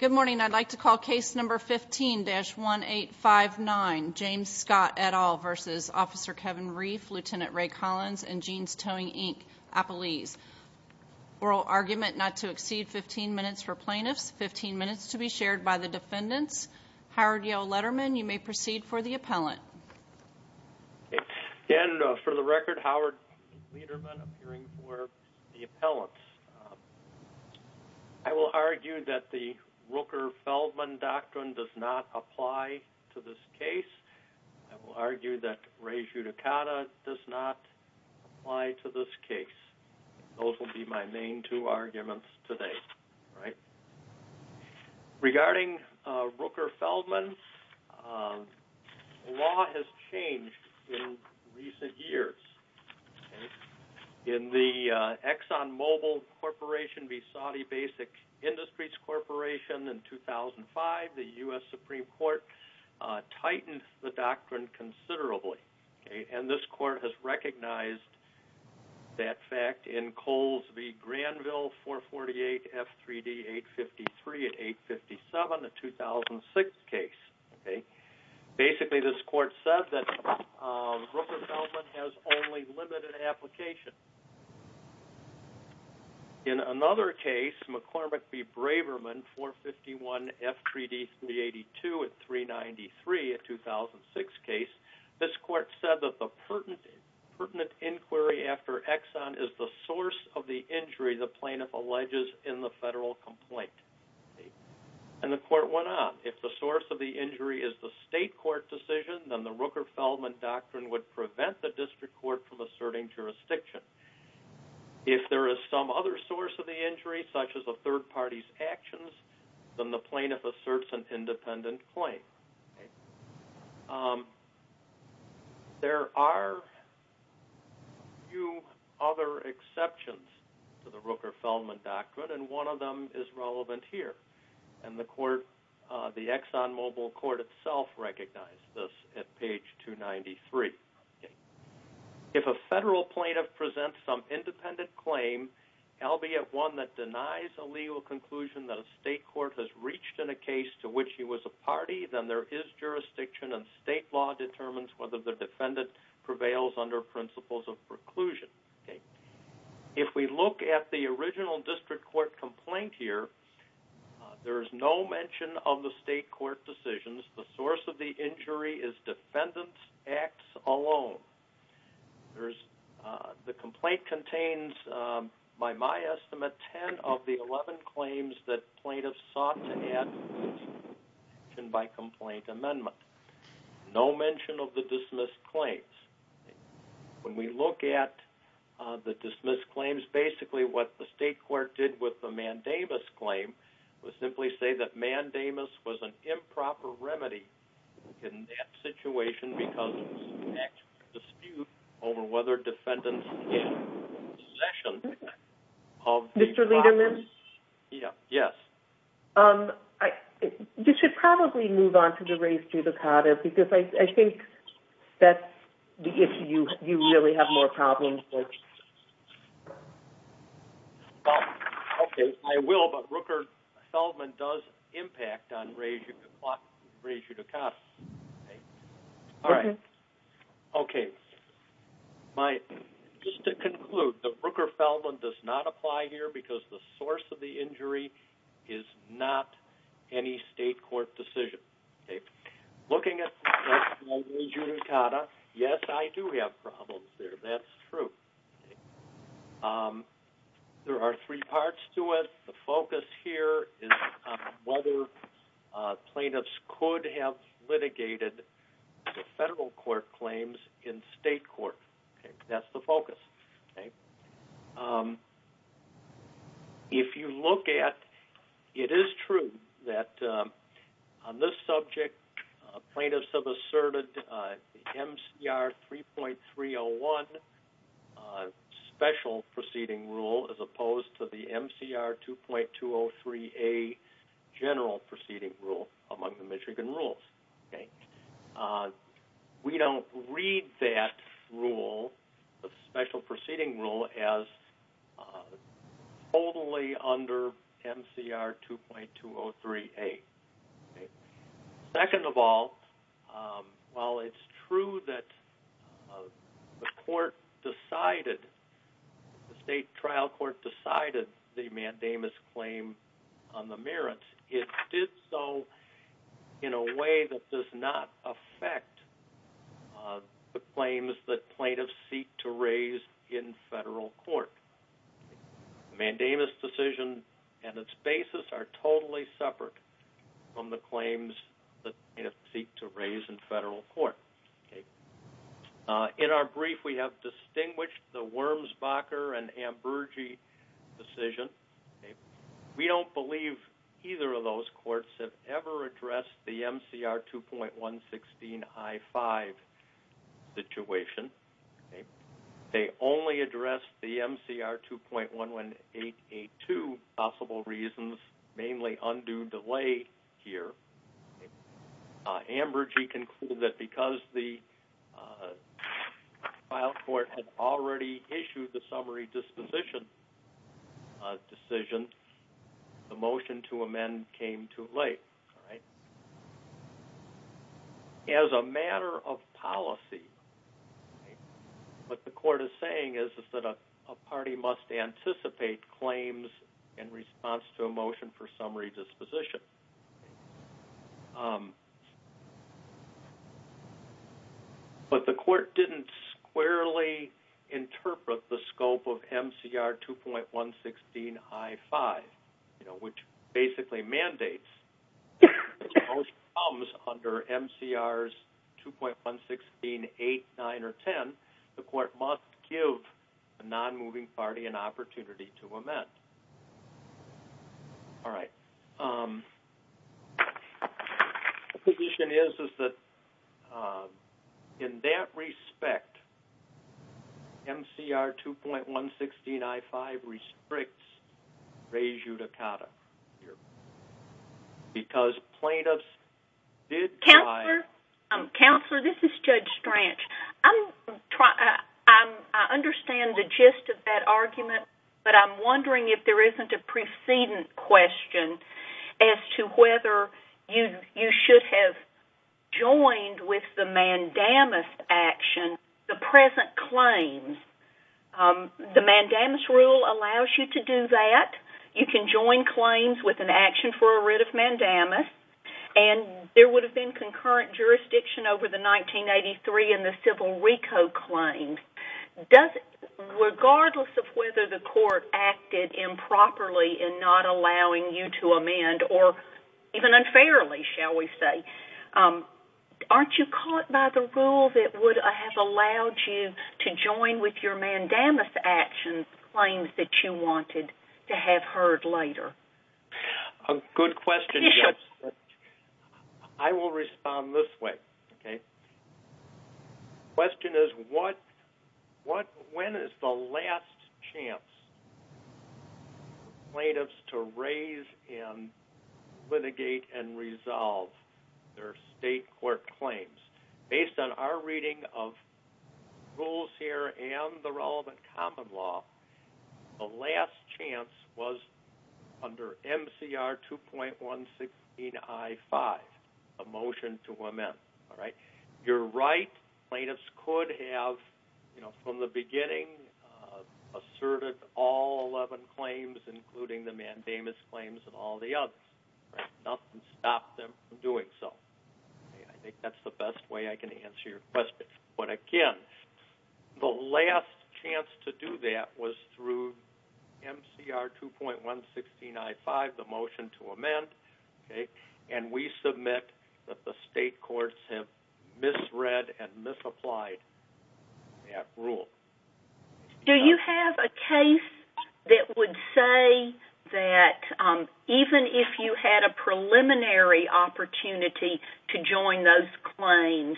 Good morning. I'd like to call case number 15-1859, James Scott et al. v. Officer Kevin Reif, Lt. Ray Collins, and Jeans Towing, Inc., Appelese. Oral argument not to exceed 15 minutes for plaintiffs, 15 minutes to be shared by the defendants. Howard Yell Letterman, you may proceed for the appellant. And for the record, Howard Letterman, appearing for the appellant. I will argue that the Rooker-Feldman doctrine does not apply to this case. I will argue that Ray's judicata does not apply to this case. Those will be my main two arguments today. Regarding Rooker-Feldman, law has changed in recent years. In the ExxonMobil Corporation v. Saudi Basic Industries Corporation in 2005, the U.S. Supreme Court tightened the doctrine considerably. And this court has recognized that fact in Coles v. Granville 448 F3D 853 and 857, a 2006 case. Basically, this court said that Rooker-Feldman has only limited application. In another case, McCormick v. Braverman 451 F3D 382 at 393, a 2006 case, this court said that the pertinent inquiry after Exxon is the source of the injury the plaintiff alleges in the federal complaint. And the court went on. If the source of the injury is the state court decision, then the Rooker-Feldman doctrine would prevent the district court from asserting jurisdiction. If there is some other source of the injury, such as a third party's actions, then the plaintiff asserts an independent claim. There are a few other exceptions to the Rooker-Feldman doctrine, and one of them is relevant here. And the ExxonMobil court itself recognized this at page 293. If a federal plaintiff presents some independent claim, albeit one that denies a legal conclusion that a state court has reached in a case to which he was a party, then there is jurisdiction and state law determines whether the defendant prevails under principles of preclusion. If we look at the original district court complaint here, there is no mention of the state court decisions. The source of the injury is defendant's acts alone. The complaint contains, by my estimate, 10 of the 11 claims that plaintiffs sought to add to the district court decision by complaint amendment. No mention of the dismissed claims. When we look at the dismissed claims, basically what the state court did with the Mandamus claim was simply say that Mandamus was an improper remedy in that situation because it was an actual dispute over whether defendants had possession of the property. You should probably move on to the Rays-Judicata because I think that's the issue you really have more problems with. I will, but Rooker-Feldman does impact on Rays-Judicata. Just to conclude, the Rooker-Feldman does not apply here because the source of the injury is not any state court decision. Looking at Rays-Judicata, yes, I do have problems there. That's true. There are three parts to it. The focus here is whether plaintiffs could have litigated the federal court claims in state court. That's the focus. If you look at, it is true that on this subject, plaintiffs have asserted MCR 3.301 special proceeding rule as opposed to the MCR 2.203A general proceeding rule among the Michigan rules. We don't read that rule, the special proceeding rule, as totally under MCR 2.203A. Second of all, while it's true that the court decided, the state trial court decided the mandamus claim on the merits, it did so in a way that does not affect the claims that plaintiffs seek to raise in federal court. The mandamus decision and its basis are totally separate from the claims that plaintiffs seek to raise in federal court. In our brief, we have distinguished the Wurmsbacher and Amburgey decision. We don't believe either of those courts have ever addressed the MCR 2.116I-5 situation. They only addressed the MCR 2.118A-2 possible reasons, mainly undue delay here. Amburgey concluded that because the trial court had already issued the summary disposition decision, the motion to amend came too late. As a matter of policy, what the court is saying is that a party must anticipate claims in response to a motion for summary disposition. But the court didn't squarely interpret the scope of MCR 2.116I-5, which basically mandates under MCRs 2.116, 8, 9, or 10, the court must give a nonmoving party an opportunity to amend. The position is that in that respect, MCR 2.116I-5 restricts rejudicata because plaintiffs did try... If there isn't a precedent question as to whether you should have joined with the mandamus action, the present claims, the mandamus rule allows you to do that. You can join claims with an action for a writ of mandamus. There would have been concurrent jurisdiction over the 1983 and the civil RICO claims. Regardless of whether the court acted improperly in not allowing you to amend, or even unfairly, aren't you caught by the rule that would have allowed you to join with your mandamus action claims that you wanted to have heard later? A good question. I will respond this way. Okay. Under MCR 2.116I-5, a motion to amend. You're right. Plaintiffs could have, from the beginning, asserted all 11 claims, including the mandamus claims and all the others. Nothing stopped them from doing so. I think that's the best way I can answer your question. Again, the last chance to do that was through MCR 2.116I-5, the motion to amend. We submit that the state courts have misread and misapplied that rule. Do you have a case that would say that even if you had a preliminary opportunity to join those claims,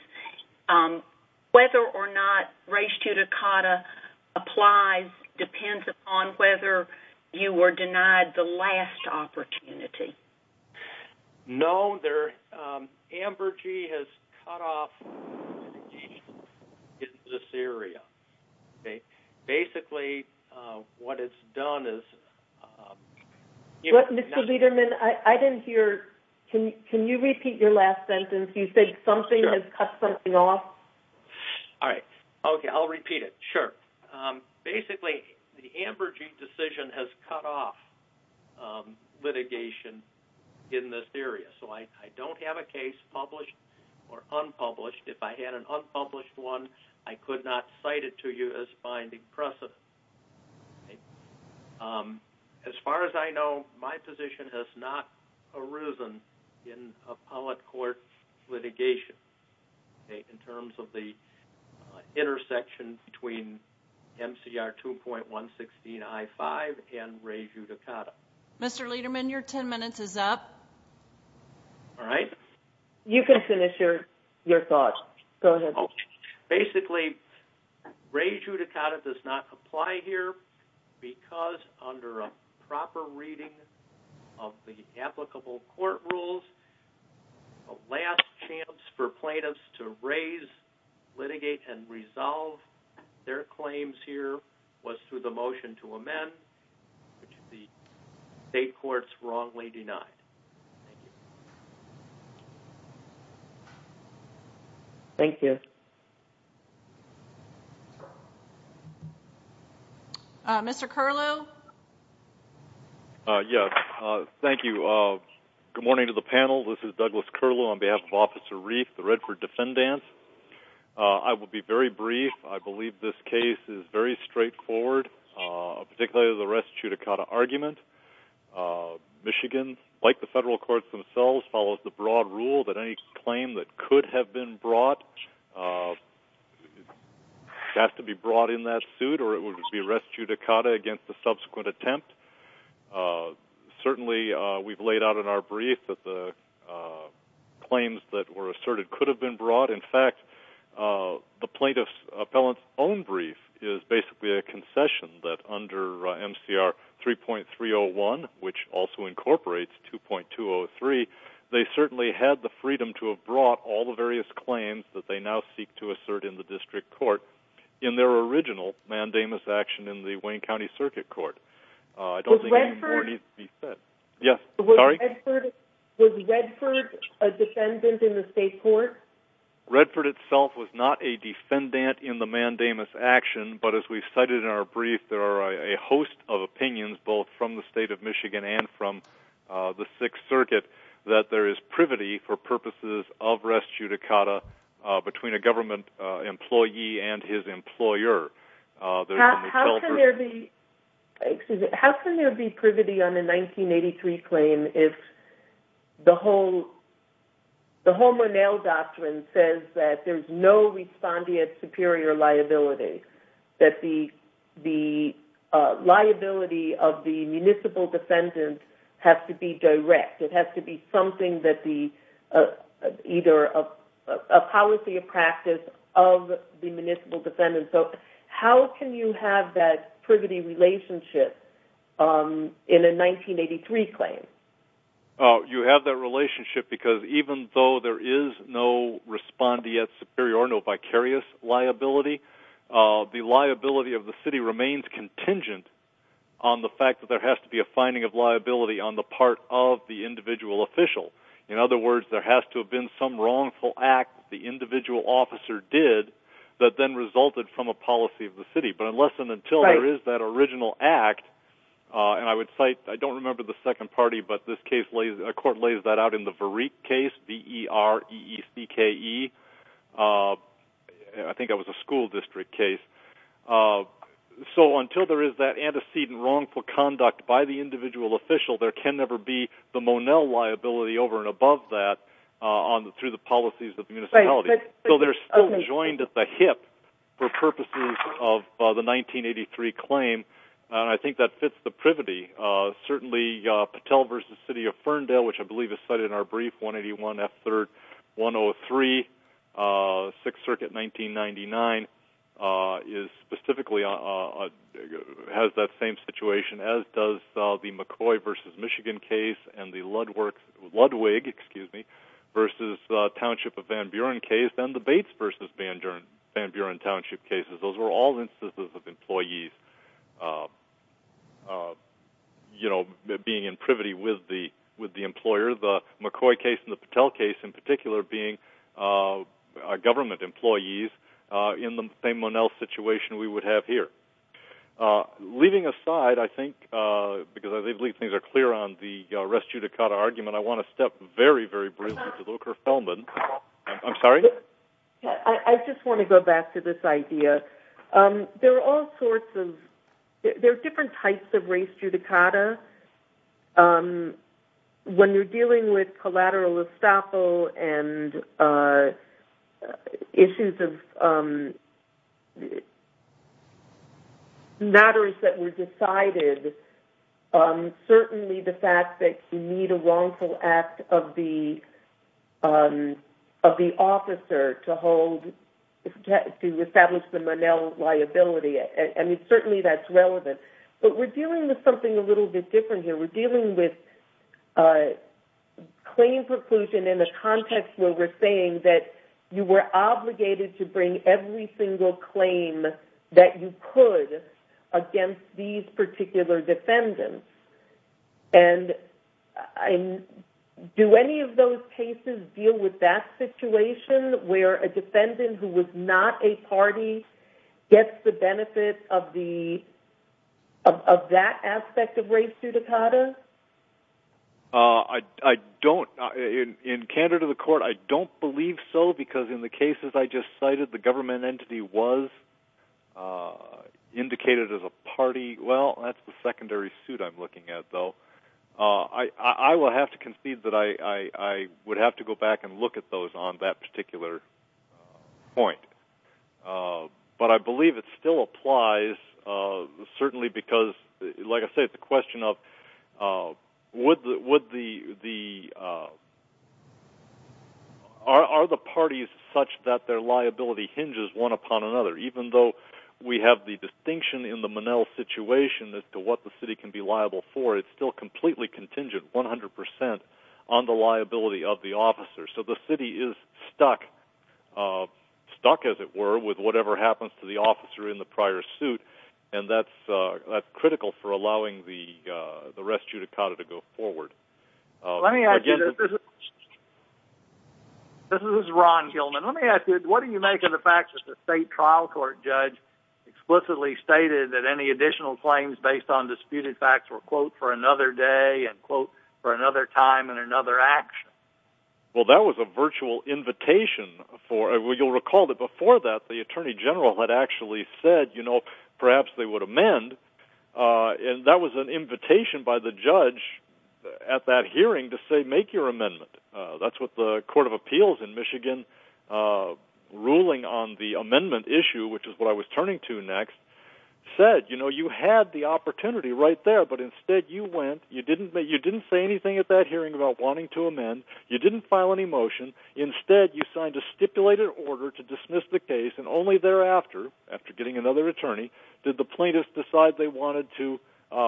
whether or not res judicata applies depends upon whether you were denied the last opportunity? No. AMBERGY has cut off litigation in this area. Basically, what it's done is... Mr. Lederman, I didn't hear. Can you repeat your last sentence? You said something has cut something off. All right. Okay. I'll repeat it. Sure. Basically, the AMBERGY decision has cut off litigation in this area. So I don't have a case published or unpublished. If I had an unpublished one, I could not cite it to you as finding precedent. As far as I know, my position has not arisen in appellate court litigation in terms of the intersection between MCR 2.116I-5 and res judicata. Mr. Lederman, your ten minutes is up. All right. You can finish your thoughts. Go ahead. Basically, res judicata does not apply here because under a proper reading of the applicable court rules, the last chance for plaintiffs to raise, litigate, and resolve their claims here was through the motion to amend, which the state courts wrongly denied. Thank you. Mr. Curlew? Yes. Thank you. Good morning to the panel. This is Douglas Curlew on behalf of Officer Reif, the Redford Defendant. I will be very brief. I believe this case is very straightforward, particularly the res judicata argument. Michigan, like the federal courts themselves, is a state court. It follows the broad rule that any claim that could have been brought has to be brought in that suit or it would be res judicata against the subsequent attempt. Certainly, we've laid out in our brief that the claims that were asserted could have been brought. In fact, the plaintiff's appellant's own brief is basically a concession that under MCR 3.301, which also incorporates 2.203, they certainly had the freedom to have brought all the various claims that they now seek to assert in the district court in their original mandamus action in the Wayne County Circuit Court. I don't think any more needs to be said. Was Redford a defendant in the state court? Redford itself was not a defendant in the mandamus action, but as we cited in our brief, there are a host of opinions both from the state of Michigan and from the Sixth Circuit that there is privity for purposes of res judicata between a government employee and his employer. How can there be privity on a 1983 claim if the whole Monell Doctrine says that there's no respondeat superior liability, that the liability of the municipal defendant has to be direct? It has to be something that's either a policy of practice of the municipal defendant. How can you have that privity relationship in a 1983 claim? You have that relationship because even though there is no respondeat superior or no vicarious liability, the liability of the city remains contingent on the fact that there has to be a finding of liability on the part of the individual official. In other words, there has to have been some wrongful act the individual officer did that then resulted from a policy of the city. But unless and until there is that original act, and I would cite, I don't remember the second party, but this court laid that out in the Vereek case, V-E-R-E-E-K-E, I think that was a school district case. So until there is that antecedent wrongful conduct by the individual official, there can never be the Monell liability over and above that through the policies of the municipality. So they're still joined at the hip for purposes of the 1983 claim, and I think that fits the privity. Certainly, Patel v. City of Ferndale, which I believe is cited in our brief, 181 F. 3rd, 103, 6th Circuit, 1999, specifically has that same situation as does the McCoy v. Michigan case and the Ludwig v. Township of Van Buren case and the Bates v. Van Buren Township cases. Those are all instances of employees being in privity with the employer. The McCoy case and the Patel case, in particular, being government employees in the same Monell situation we would have here. Leaving aside, I think, because I believe things are clear on the res judicata argument, I want to step very, very briefly to Volker Feldman. I'm sorry? I just want to go back to this idea. There are all sorts of – there are different types of res judicata. When you're dealing with collateral estoppel and issues of matters that were decided, certainly the fact that you need a wrongful act of the officer to hold – to establish the Monell liability, and certainly that's relevant. But we're dealing with something a little bit different here. We're dealing with claim preclusion in the context where we're saying that you were obligated to bring every single claim that you could against these particular defendants. Do any of those cases deal with that situation where a defendant who was not a party gets the benefit of that aspect of res judicata? I don't. In candor to the court, I don't believe so, because in the cases I just cited, the government entity was indicated as a party. Well, that's the secondary suit I'm looking at, though. I will have to concede that I would have to go back and look at those on that particular point. But I believe it still applies, certainly because, like I said, the question of would the – are the parties such that their liability hinges one upon another? Even though we have the distinction in the Monell situation as to what the city can be liable for, it's still completely contingent, 100 percent, on the liability of the officer. So the city is stuck, stuck as it were, with whatever happens to the officer in the prior suit, and that's critical for allowing the res judicata to go forward. Let me ask you – this is Ron Gilman. Let me ask you, what do you make of the fact that the state trial court judge explicitly stated that any additional claims based on disputed facts were, quote, for another day and, quote, for another time and another action? Well, that was a virtual invitation for – you'll recall that before that, the attorney general had actually said, you know, perhaps they would amend. And that was an invitation by the judge at that hearing to say, make your amendment. That's what the court of appeals in Michigan, ruling on the amendment issue, which is what I was turning to next, said. You know, you had the opportunity right there, but instead you went – you didn't say anything at that hearing about wanting to amend. You didn't file any motion. Instead, you signed a stipulated order to dismiss the case, and only thereafter, after getting another attorney, did the plaintiffs decide they wanted to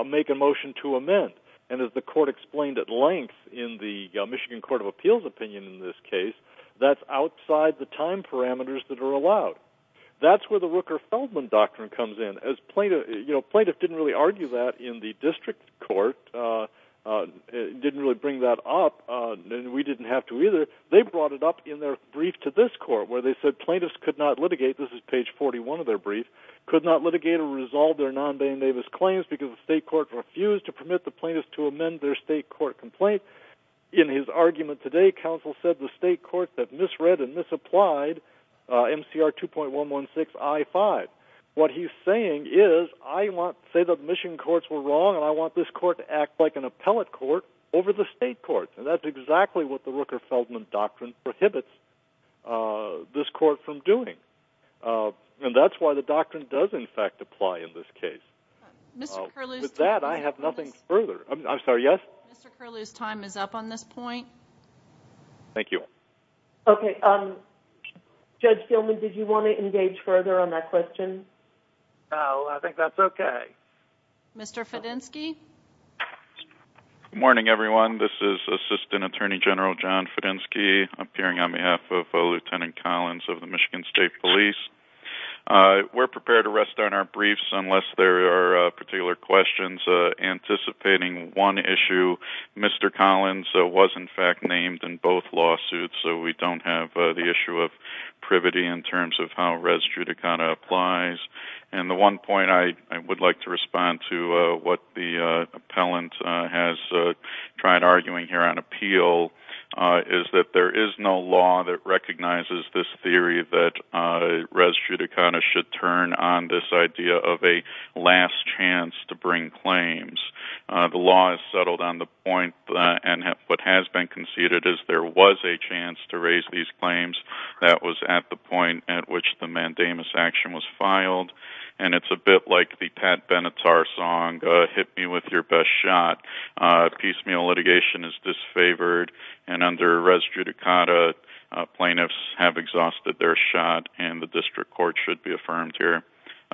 make a motion to amend. And as the court explained at length in the Michigan court of appeals opinion in this case, that's outside the time parameters that are allowed. That's where the Rooker-Feldman doctrine comes in. As plaintiffs – you know, plaintiffs didn't really argue that in the district court, didn't really bring that up, and we didn't have to either. They brought it up in their brief to this court, where they said plaintiffs could not litigate – this is page 41 of their brief – could not litigate or resolve their non-Bayne-Davis claims because the state court refused to permit the plaintiffs to amend their state court complaint. In his argument today, counsel said the state court that misread and misapplied MCR 2.116 I-5. What he's saying is, I want – say the Michigan courts were wrong, and I want this court to act like an appellate court over the state court. And that's exactly what the Rooker-Feldman doctrine prohibits this court from doing. And that's why the doctrine does, in fact, apply in this case. With that, I have nothing further. I'm sorry, yes? Mr. Curlew's time is up on this point. Thank you. Okay, Judge Feldman, did you want to engage further on that question? No, I think that's okay. Mr. Fedenski? Good morning, everyone. This is Assistant Attorney General John Fedenski, appearing on behalf of Lieutenant Collins of the Michigan State Police. We're prepared to rest on our briefs unless there are particular questions. Anticipating one issue, Mr. Collins was, in fact, named in both lawsuits, so we don't have the issue of privity in terms of how res judicata applies. And the one point I would like to respond to what the appellant has tried arguing here on appeal is that there is no law that recognizes this theory that res judicata should turn on this idea of a last chance to bring claims. The law is settled on the point, and what has been conceded is there was a chance to raise these claims. That was at the point at which the mandamus action was filed, and it's a bit like the Pat Benatar song, Hit Me With Your Best Shot. Piecemeal litigation is disfavored, and under res judicata, plaintiffs have exhausted their shot, and the district court should be affirmed here.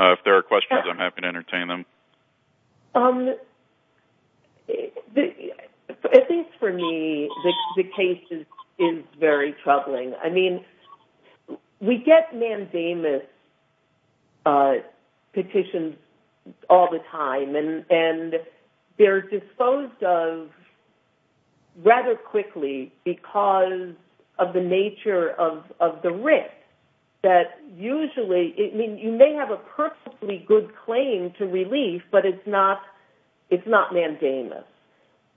If there are questions, I'm happy to entertain them. At least for me, the case is very troubling. I mean, we get mandamus petitions all the time, and they're disposed of rather quickly because of the nature of the risk. Usually, you may have a perfectly good claim to relief, but it's not mandamus.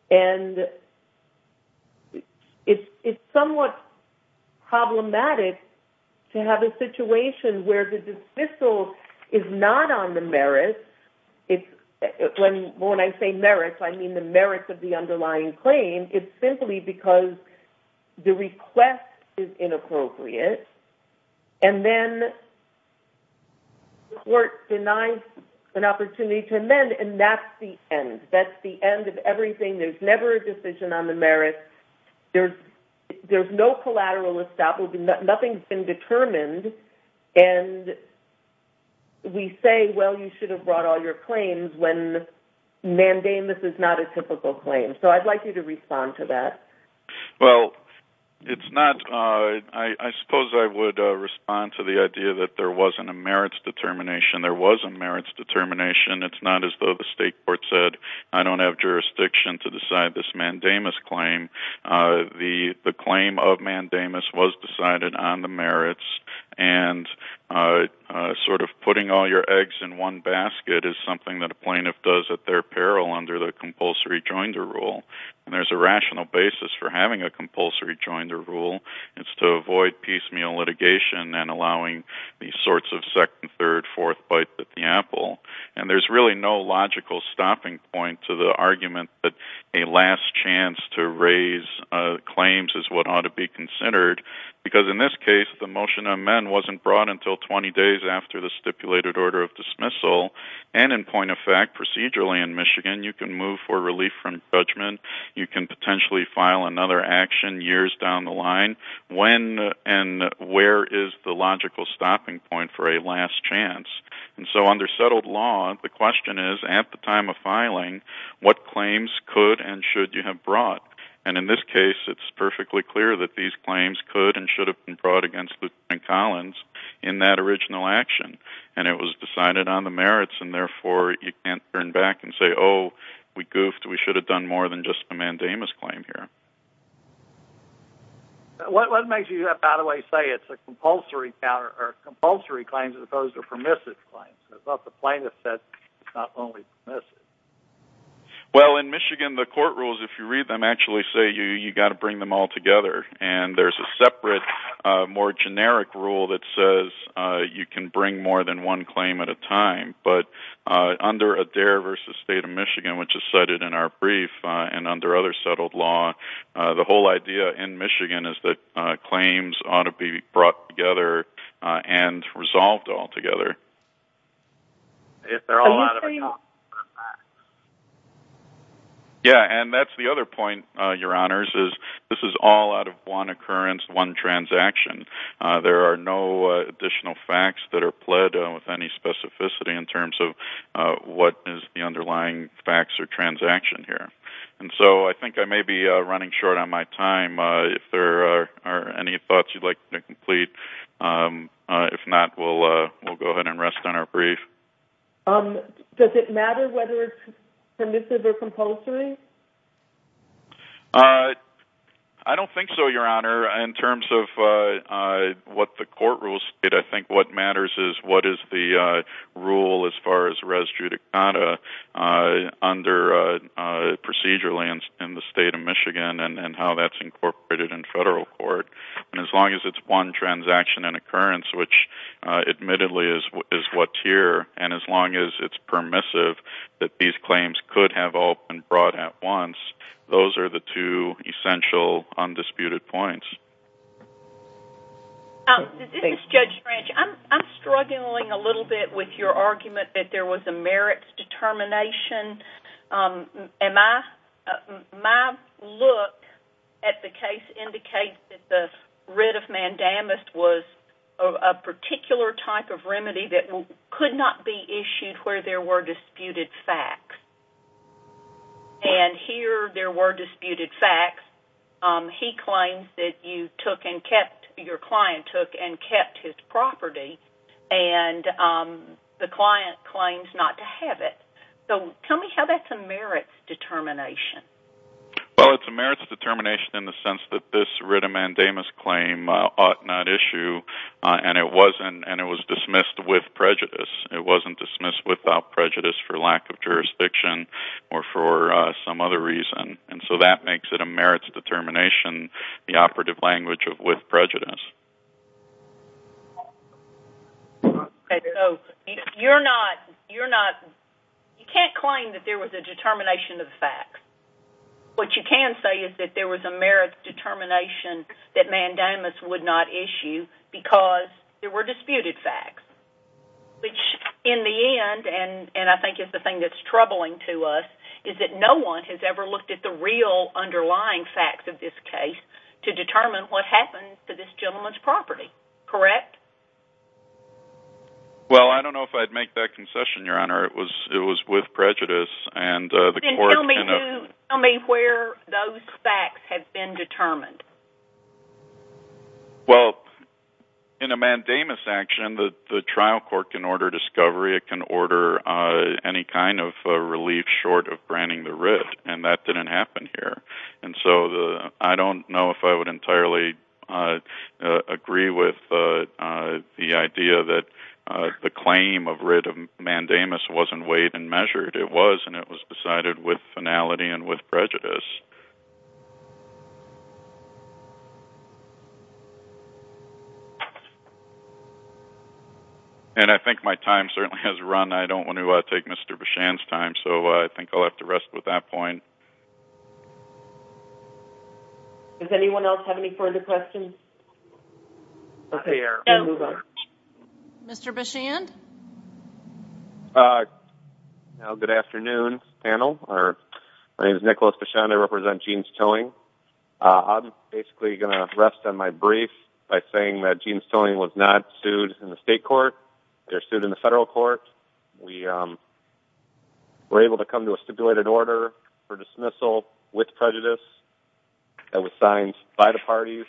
And it's somewhat problematic to have a situation where the dismissal is not on the merits. When I say merits, I mean the merits of the underlying claim. It's simply because the request is inappropriate, and then the court denies an opportunity to amend, and that's the end. That's the end of everything. There's never a decision on the merits. There's no collateral establishment. Nothing's been determined, and we say, well, you should have brought all your claims when mandamus is not a typical claim. So I'd like you to respond to that. Well, I suppose I would respond to the idea that there wasn't a merits determination. There was a merits determination. It's not as though the state court said, I don't have jurisdiction to decide this mandamus claim. The claim of mandamus was decided on the merits, and sort of putting all your eggs in one basket is something that a plaintiff does at their peril under the compulsory joinder rule. And there's a rational basis for having a compulsory joinder rule. It's to avoid piecemeal litigation and allowing these sorts of second, third, fourth bites at the apple. And there's really no logical stopping point to the argument that a last chance to raise claims is what ought to be considered, because in this case, the motion to amend wasn't brought until 20 days after the stipulated order of dismissal. And in point of fact, procedurally in Michigan, you can move for relief from judgment. You can potentially file another action years down the line. When and where is the logical stopping point for a last chance? And so under settled law, the question is, at the time of filing, what claims could and should you have brought? And in this case, it's perfectly clear that these claims could and should have been brought against Lutheran Collins in that original action. And it was decided on the merits, and therefore you can't turn back and say, oh, we goofed, we should have done more than just a mandamus claim here. What makes you, by the way, say it's a compulsory claim as opposed to a permissive claim? I thought the plaintiff said it's not only permissive. Well, in Michigan, the court rules, if you read them, actually say you've got to bring them all together. And there's a separate, more generic rule that says you can bring more than one claim at a time. But under Adair v. State of Michigan, which is cited in our brief, and under other settled law, the whole idea in Michigan is that claims ought to be brought together and resolved altogether. And that's the other point, Your Honors, is this is all out of one occurrence, one transaction. There are no additional facts that are pled with any specificity in terms of what is the underlying facts or transaction here. And so I think I may be running short on my time. If there are any thoughts you'd like to complete, if not, we'll go ahead and rest on our brief. Does it matter whether it's permissive or compulsory? I don't think so, Your Honor. In terms of what the court rules state, I think what matters is what is the rule as far as res judicata under procedure lands in the State of Michigan and how that's incorporated in federal court. And as long as it's one transaction and occurrence, which admittedly is what's here, and as long as it's permissive that these claims could have all been brought at once, those are the two essential, undisputed points. This is Judge Branch. I'm struggling a little bit with your argument that there was a merits determination. My look at the case indicates that the writ of mandamus was a particular type of remedy that could not be issued where there were disputed facts. And here there were disputed facts. He claims that you took and kept, your client took and kept his property, and the client claims not to have it. So tell me how that's a merits determination. Well, it's a merits determination in the sense that this writ of mandamus claim ought not issue, and it was dismissed with prejudice. It wasn't dismissed without prejudice for lack of jurisdiction or for some other reason. And so that makes it a merits determination, the operative language with prejudice. You're not, you're not, you can't claim that there was a determination of facts. What you can say is that there was a merits determination that mandamus would not issue because there were disputed facts, which in the end, and I think it's the thing that's troubling to us, is that no one has ever looked at the real underlying facts of this case to determine what happened to this gentleman's property, correct? Well, I don't know if I'd make that concession, Your Honor. It was, it was with prejudice, and the court... Then tell me who, tell me where those facts have been determined. Well, in a mandamus action, the trial court can order discovery. It can order any kind of relief short of granting the writ, and that didn't happen here. And so I don't know if I would entirely agree with the idea that the claim of writ of mandamus wasn't weighed and measured. It was, and it was decided with finality and with prejudice. And I think my time certainly has run. I don't want to take Mr. Bichand's time, so I think I'll have to rest with that point. Does anyone else have any further questions? Okay, we'll move on. Mr. Bichand? Now, good afternoon, panel. I report to you on behalf of the Department of Justice. I represent Jeans Towing. I'm basically going to rest on my brief by saying that Jeans Towing was not sued in the state court. They're sued in the federal court. We were able to come to a stipulated order for dismissal with prejudice that was signed by the parties.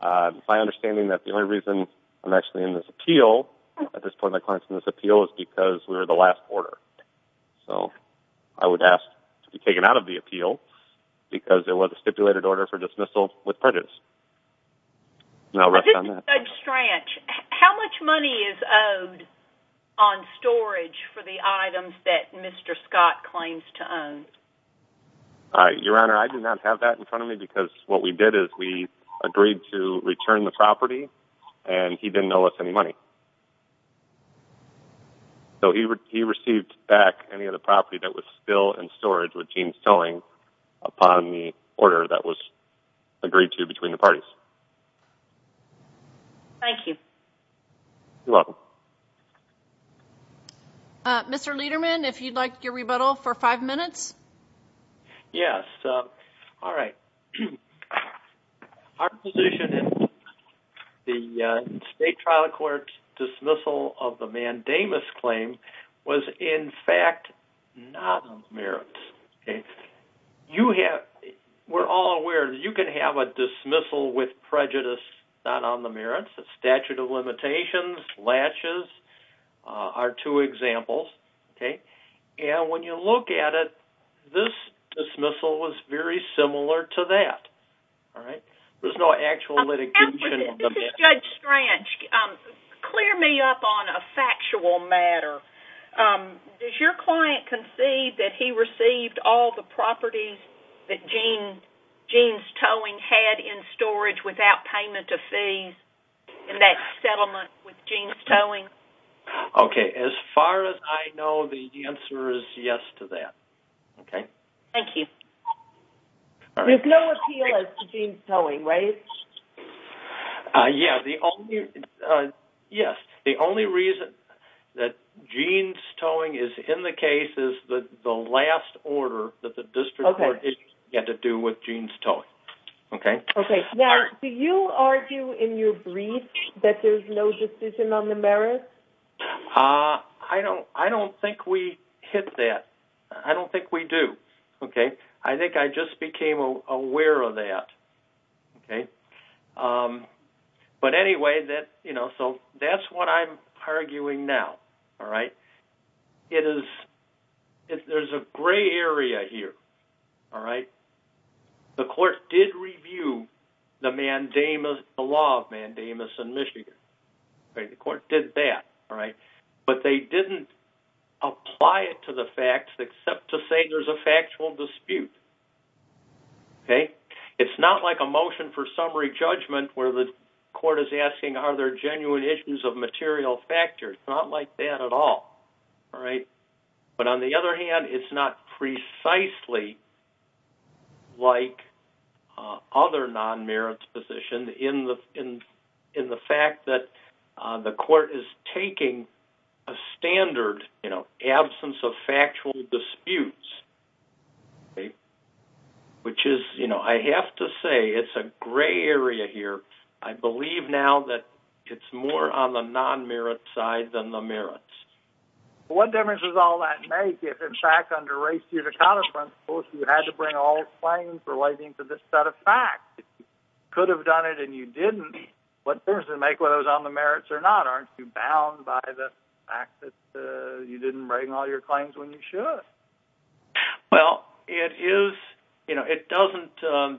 My understanding is that the only reason I'm actually in this appeal, at this point in this appeal, is because we were the last order. So I would ask to be taken out of the appeal because it was a stipulated order for dismissal with prejudice. And I'll rest on that. Judge Strach, how much money is owed on storage for the items that Mr. Scott claims to own? Your Honor, I do not have that in front of me because what we did is we agreed to return the property, and he didn't owe us any money. So he received back any of the property that was still in storage with Jeans Towing upon the order that was agreed to between the parties. Thank you. You're welcome. Mr. Lederman, if you'd like your rebuttal for five minutes. Yes. All right. Our position is the State Trial Court's dismissal of the mandamus claim was in fact not on the merits. You have, we're all aware that you can have a dismissal with prejudice not on the merits. The statute of limitations, latches, are two examples. And when you look at it, this dismissal was very similar to that. There's no actual litigation on the merits. This is Judge Strach. Clear me up on a factual matter. Does your client concede that he received all the properties that Jeans Towing had in storage without payment of fees in that settlement with Jeans Towing? Okay. As far as I know, the answer is yes to that. Okay. Thank you. There's no appeal as to Jeans Towing, right? Yes. The only reason that Jeans Towing is in the case is the last order that the District Court issued had to do with Jeans Towing. Okay. Okay. Now, do you argue in your brief that there's no decision on the merits? I don't think we hit that. I don't think we do. Okay. I think I just became aware of that. Okay. But anyway, that, you know, so that's what I'm arguing now. All right. It is, there's a gray area here. All right. The court did review the mandamus, the law of mandamus in Michigan. All right. The court did that. All right. But they didn't apply it to the facts except to say there's a factual dispute. Okay. It's not like a motion for summary judgment where the court is asking are there genuine issues of material factors. It's not like that at all. All right. But on the other hand, it's not precisely like other non-merits positions in the fact that the court is taking a standard, you know, absence of factual disputes. Okay. Which is, you know, I have to say it's a gray area here. I believe now that it's more on the non-merit side than the merits. What difference does all that make if, in fact, under ratio to counter principle, you had to bring all claims relating to this set of facts? You could have done it and you didn't. What difference does it make whether it was on the merits or not? Aren't you bound by the fact that you didn't bring all your claims when you should? Well, it is, you know, it doesn't,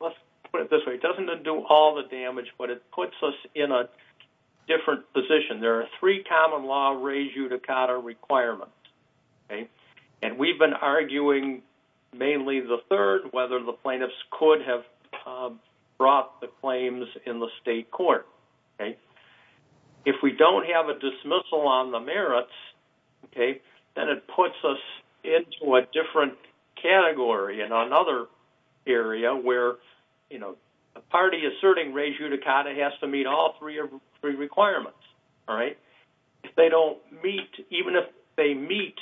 let's put it this way, it doesn't undo all the damage, but it puts us in a different position. There are three common law rejudicata requirements. Okay. And we've been arguing mainly the third, whether the plaintiffs could have brought the claims in the state court. Okay. If we don't have a dismissal on the merits, okay, then it puts us into a different category in another area where, you know, a party asserting rejudicata has to meet all three requirements. All right. If they don't meet, even if they meet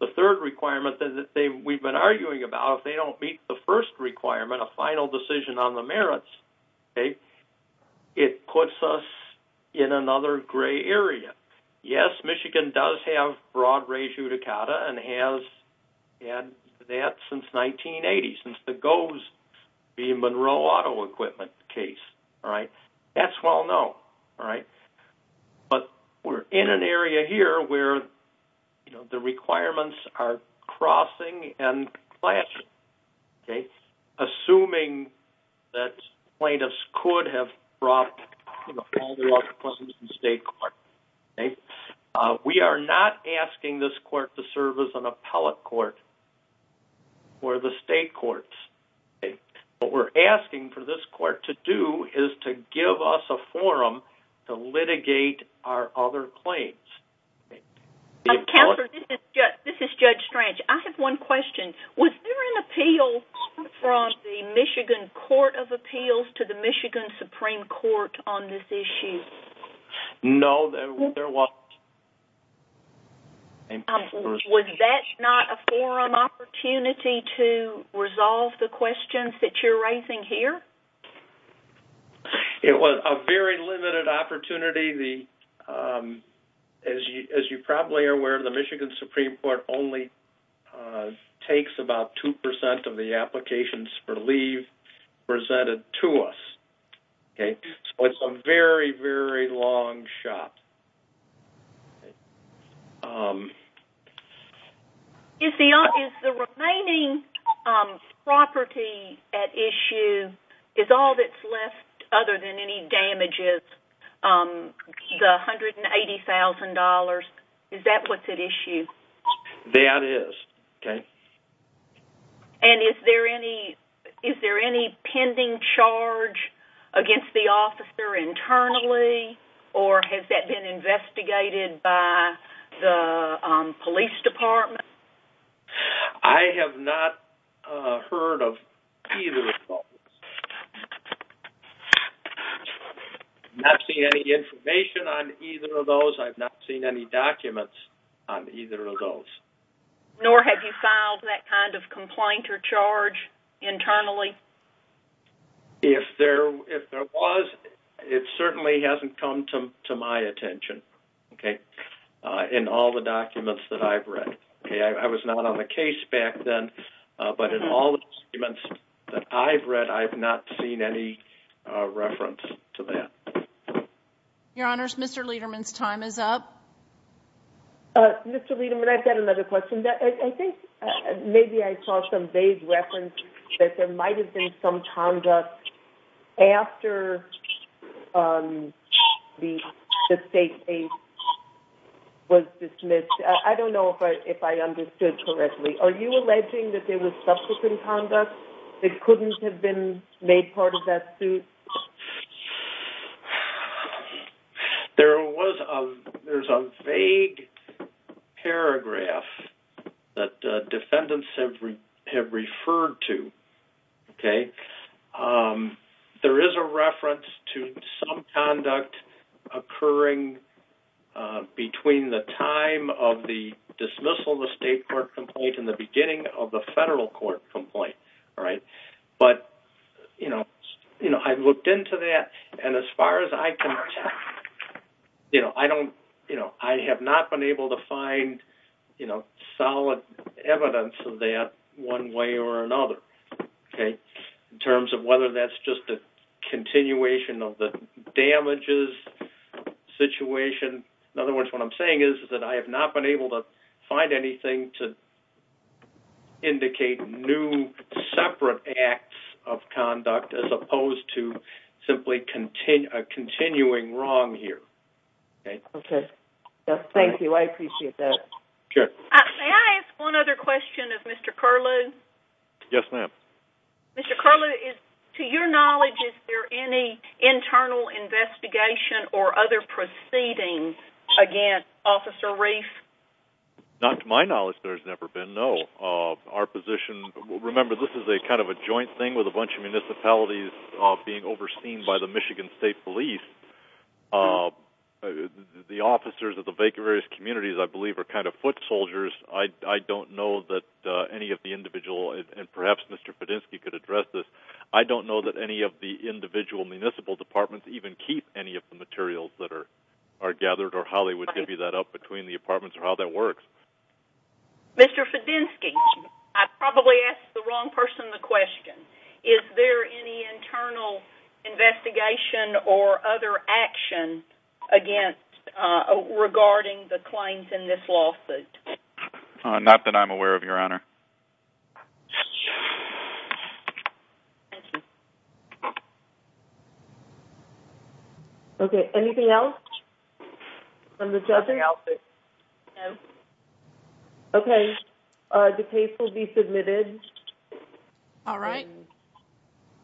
the third requirement that we've been arguing about, if they don't meet the first requirement, a final decision on the merits, okay, it puts us in another gray area. Yes, Michigan does have broad rejudicata and has had that since 1980, since the GOES, the Monroe Auto Equipment case. All right. That's well known. All right. But we're in an area here where, you know, the requirements are crossing and clashing. Okay. Assuming that plaintiffs could have brought all the laws of the state court. Okay. We are not asking this court to serve as an appellate court for the state courts. What we're asking for this court to do is to give us a forum to litigate our other claims. Counselor, this is Judge Strange. I have one question. Was there an appeal from the Michigan Court of Appeals to the Michigan Supreme Court on this issue? No, there wasn't. Was that not a forum opportunity to resolve the questions that you're raising here? It was a very limited opportunity. As you probably are aware, the Michigan Supreme Court only takes about 2% of the applications for leave presented to us. Okay. So it's a very, very long shot. Okay. Is the remaining property at issue, is all that's left other than any damages, the $180,000, is that what's at issue? That is. Okay. And is there any pending charge against the officer internally, or has that been investigated by the police department? I have not heard of either of those. I've not seen any information on either of those. I've not seen any documents on either of those. Nor have you filed that kind of complaint or charge internally? If there was, it certainly hasn't come to my attention in all the documents that I've read. I was not on the case back then, but in all the documents that I've read, I've not seen any reference to that. Your Honors, Mr. Lederman's time is up. Mr. Lederman, I've got another question. I think maybe I saw some vague reference that there might have been some conduct after the state case was dismissed. I don't know if I understood correctly. Are you alleging that there was subsequent conduct that couldn't have been made part of that suit? There's a vague paragraph that defendants have referred to. There is a reference to some conduct occurring between the time of the dismissal of the state court complaint and the beginning of the federal court complaint. I've looked into that. As far as I can tell, I have not been able to find solid evidence of that one way or another in terms of whether that's just a continuation of the damages situation. In other words, what I'm saying is that I have not been able to find anything to indicate new separate acts of conduct as opposed to simply a continuing wrong here. Thank you. I appreciate that. May I ask one other question of Mr. Curlew? Yes, ma'am. Mr. Curlew, to your knowledge, is there any internal investigation or other proceedings against Officer Reif? Not to my knowledge, there's never been, no. Remember, this is kind of a joint thing with a bunch of municipalities being overseen by the Michigan State Police. The officers of the various communities, I believe, are kind of foot soldiers. I don't know that any of the individual, and perhaps Mr. Fedenski could address this, I don't know that any of the individual municipal departments even keep any of the materials that are gathered, or Holly would give you that up, between the departments, or how that works. Mr. Fedenski, I probably asked the wrong person the question. Is there any internal investigation or other action regarding the claims in this lawsuit? Not that I'm aware of, Your Honor. Thank you. Okay, anything else from the judges? Okay, the case will be submitted. All right.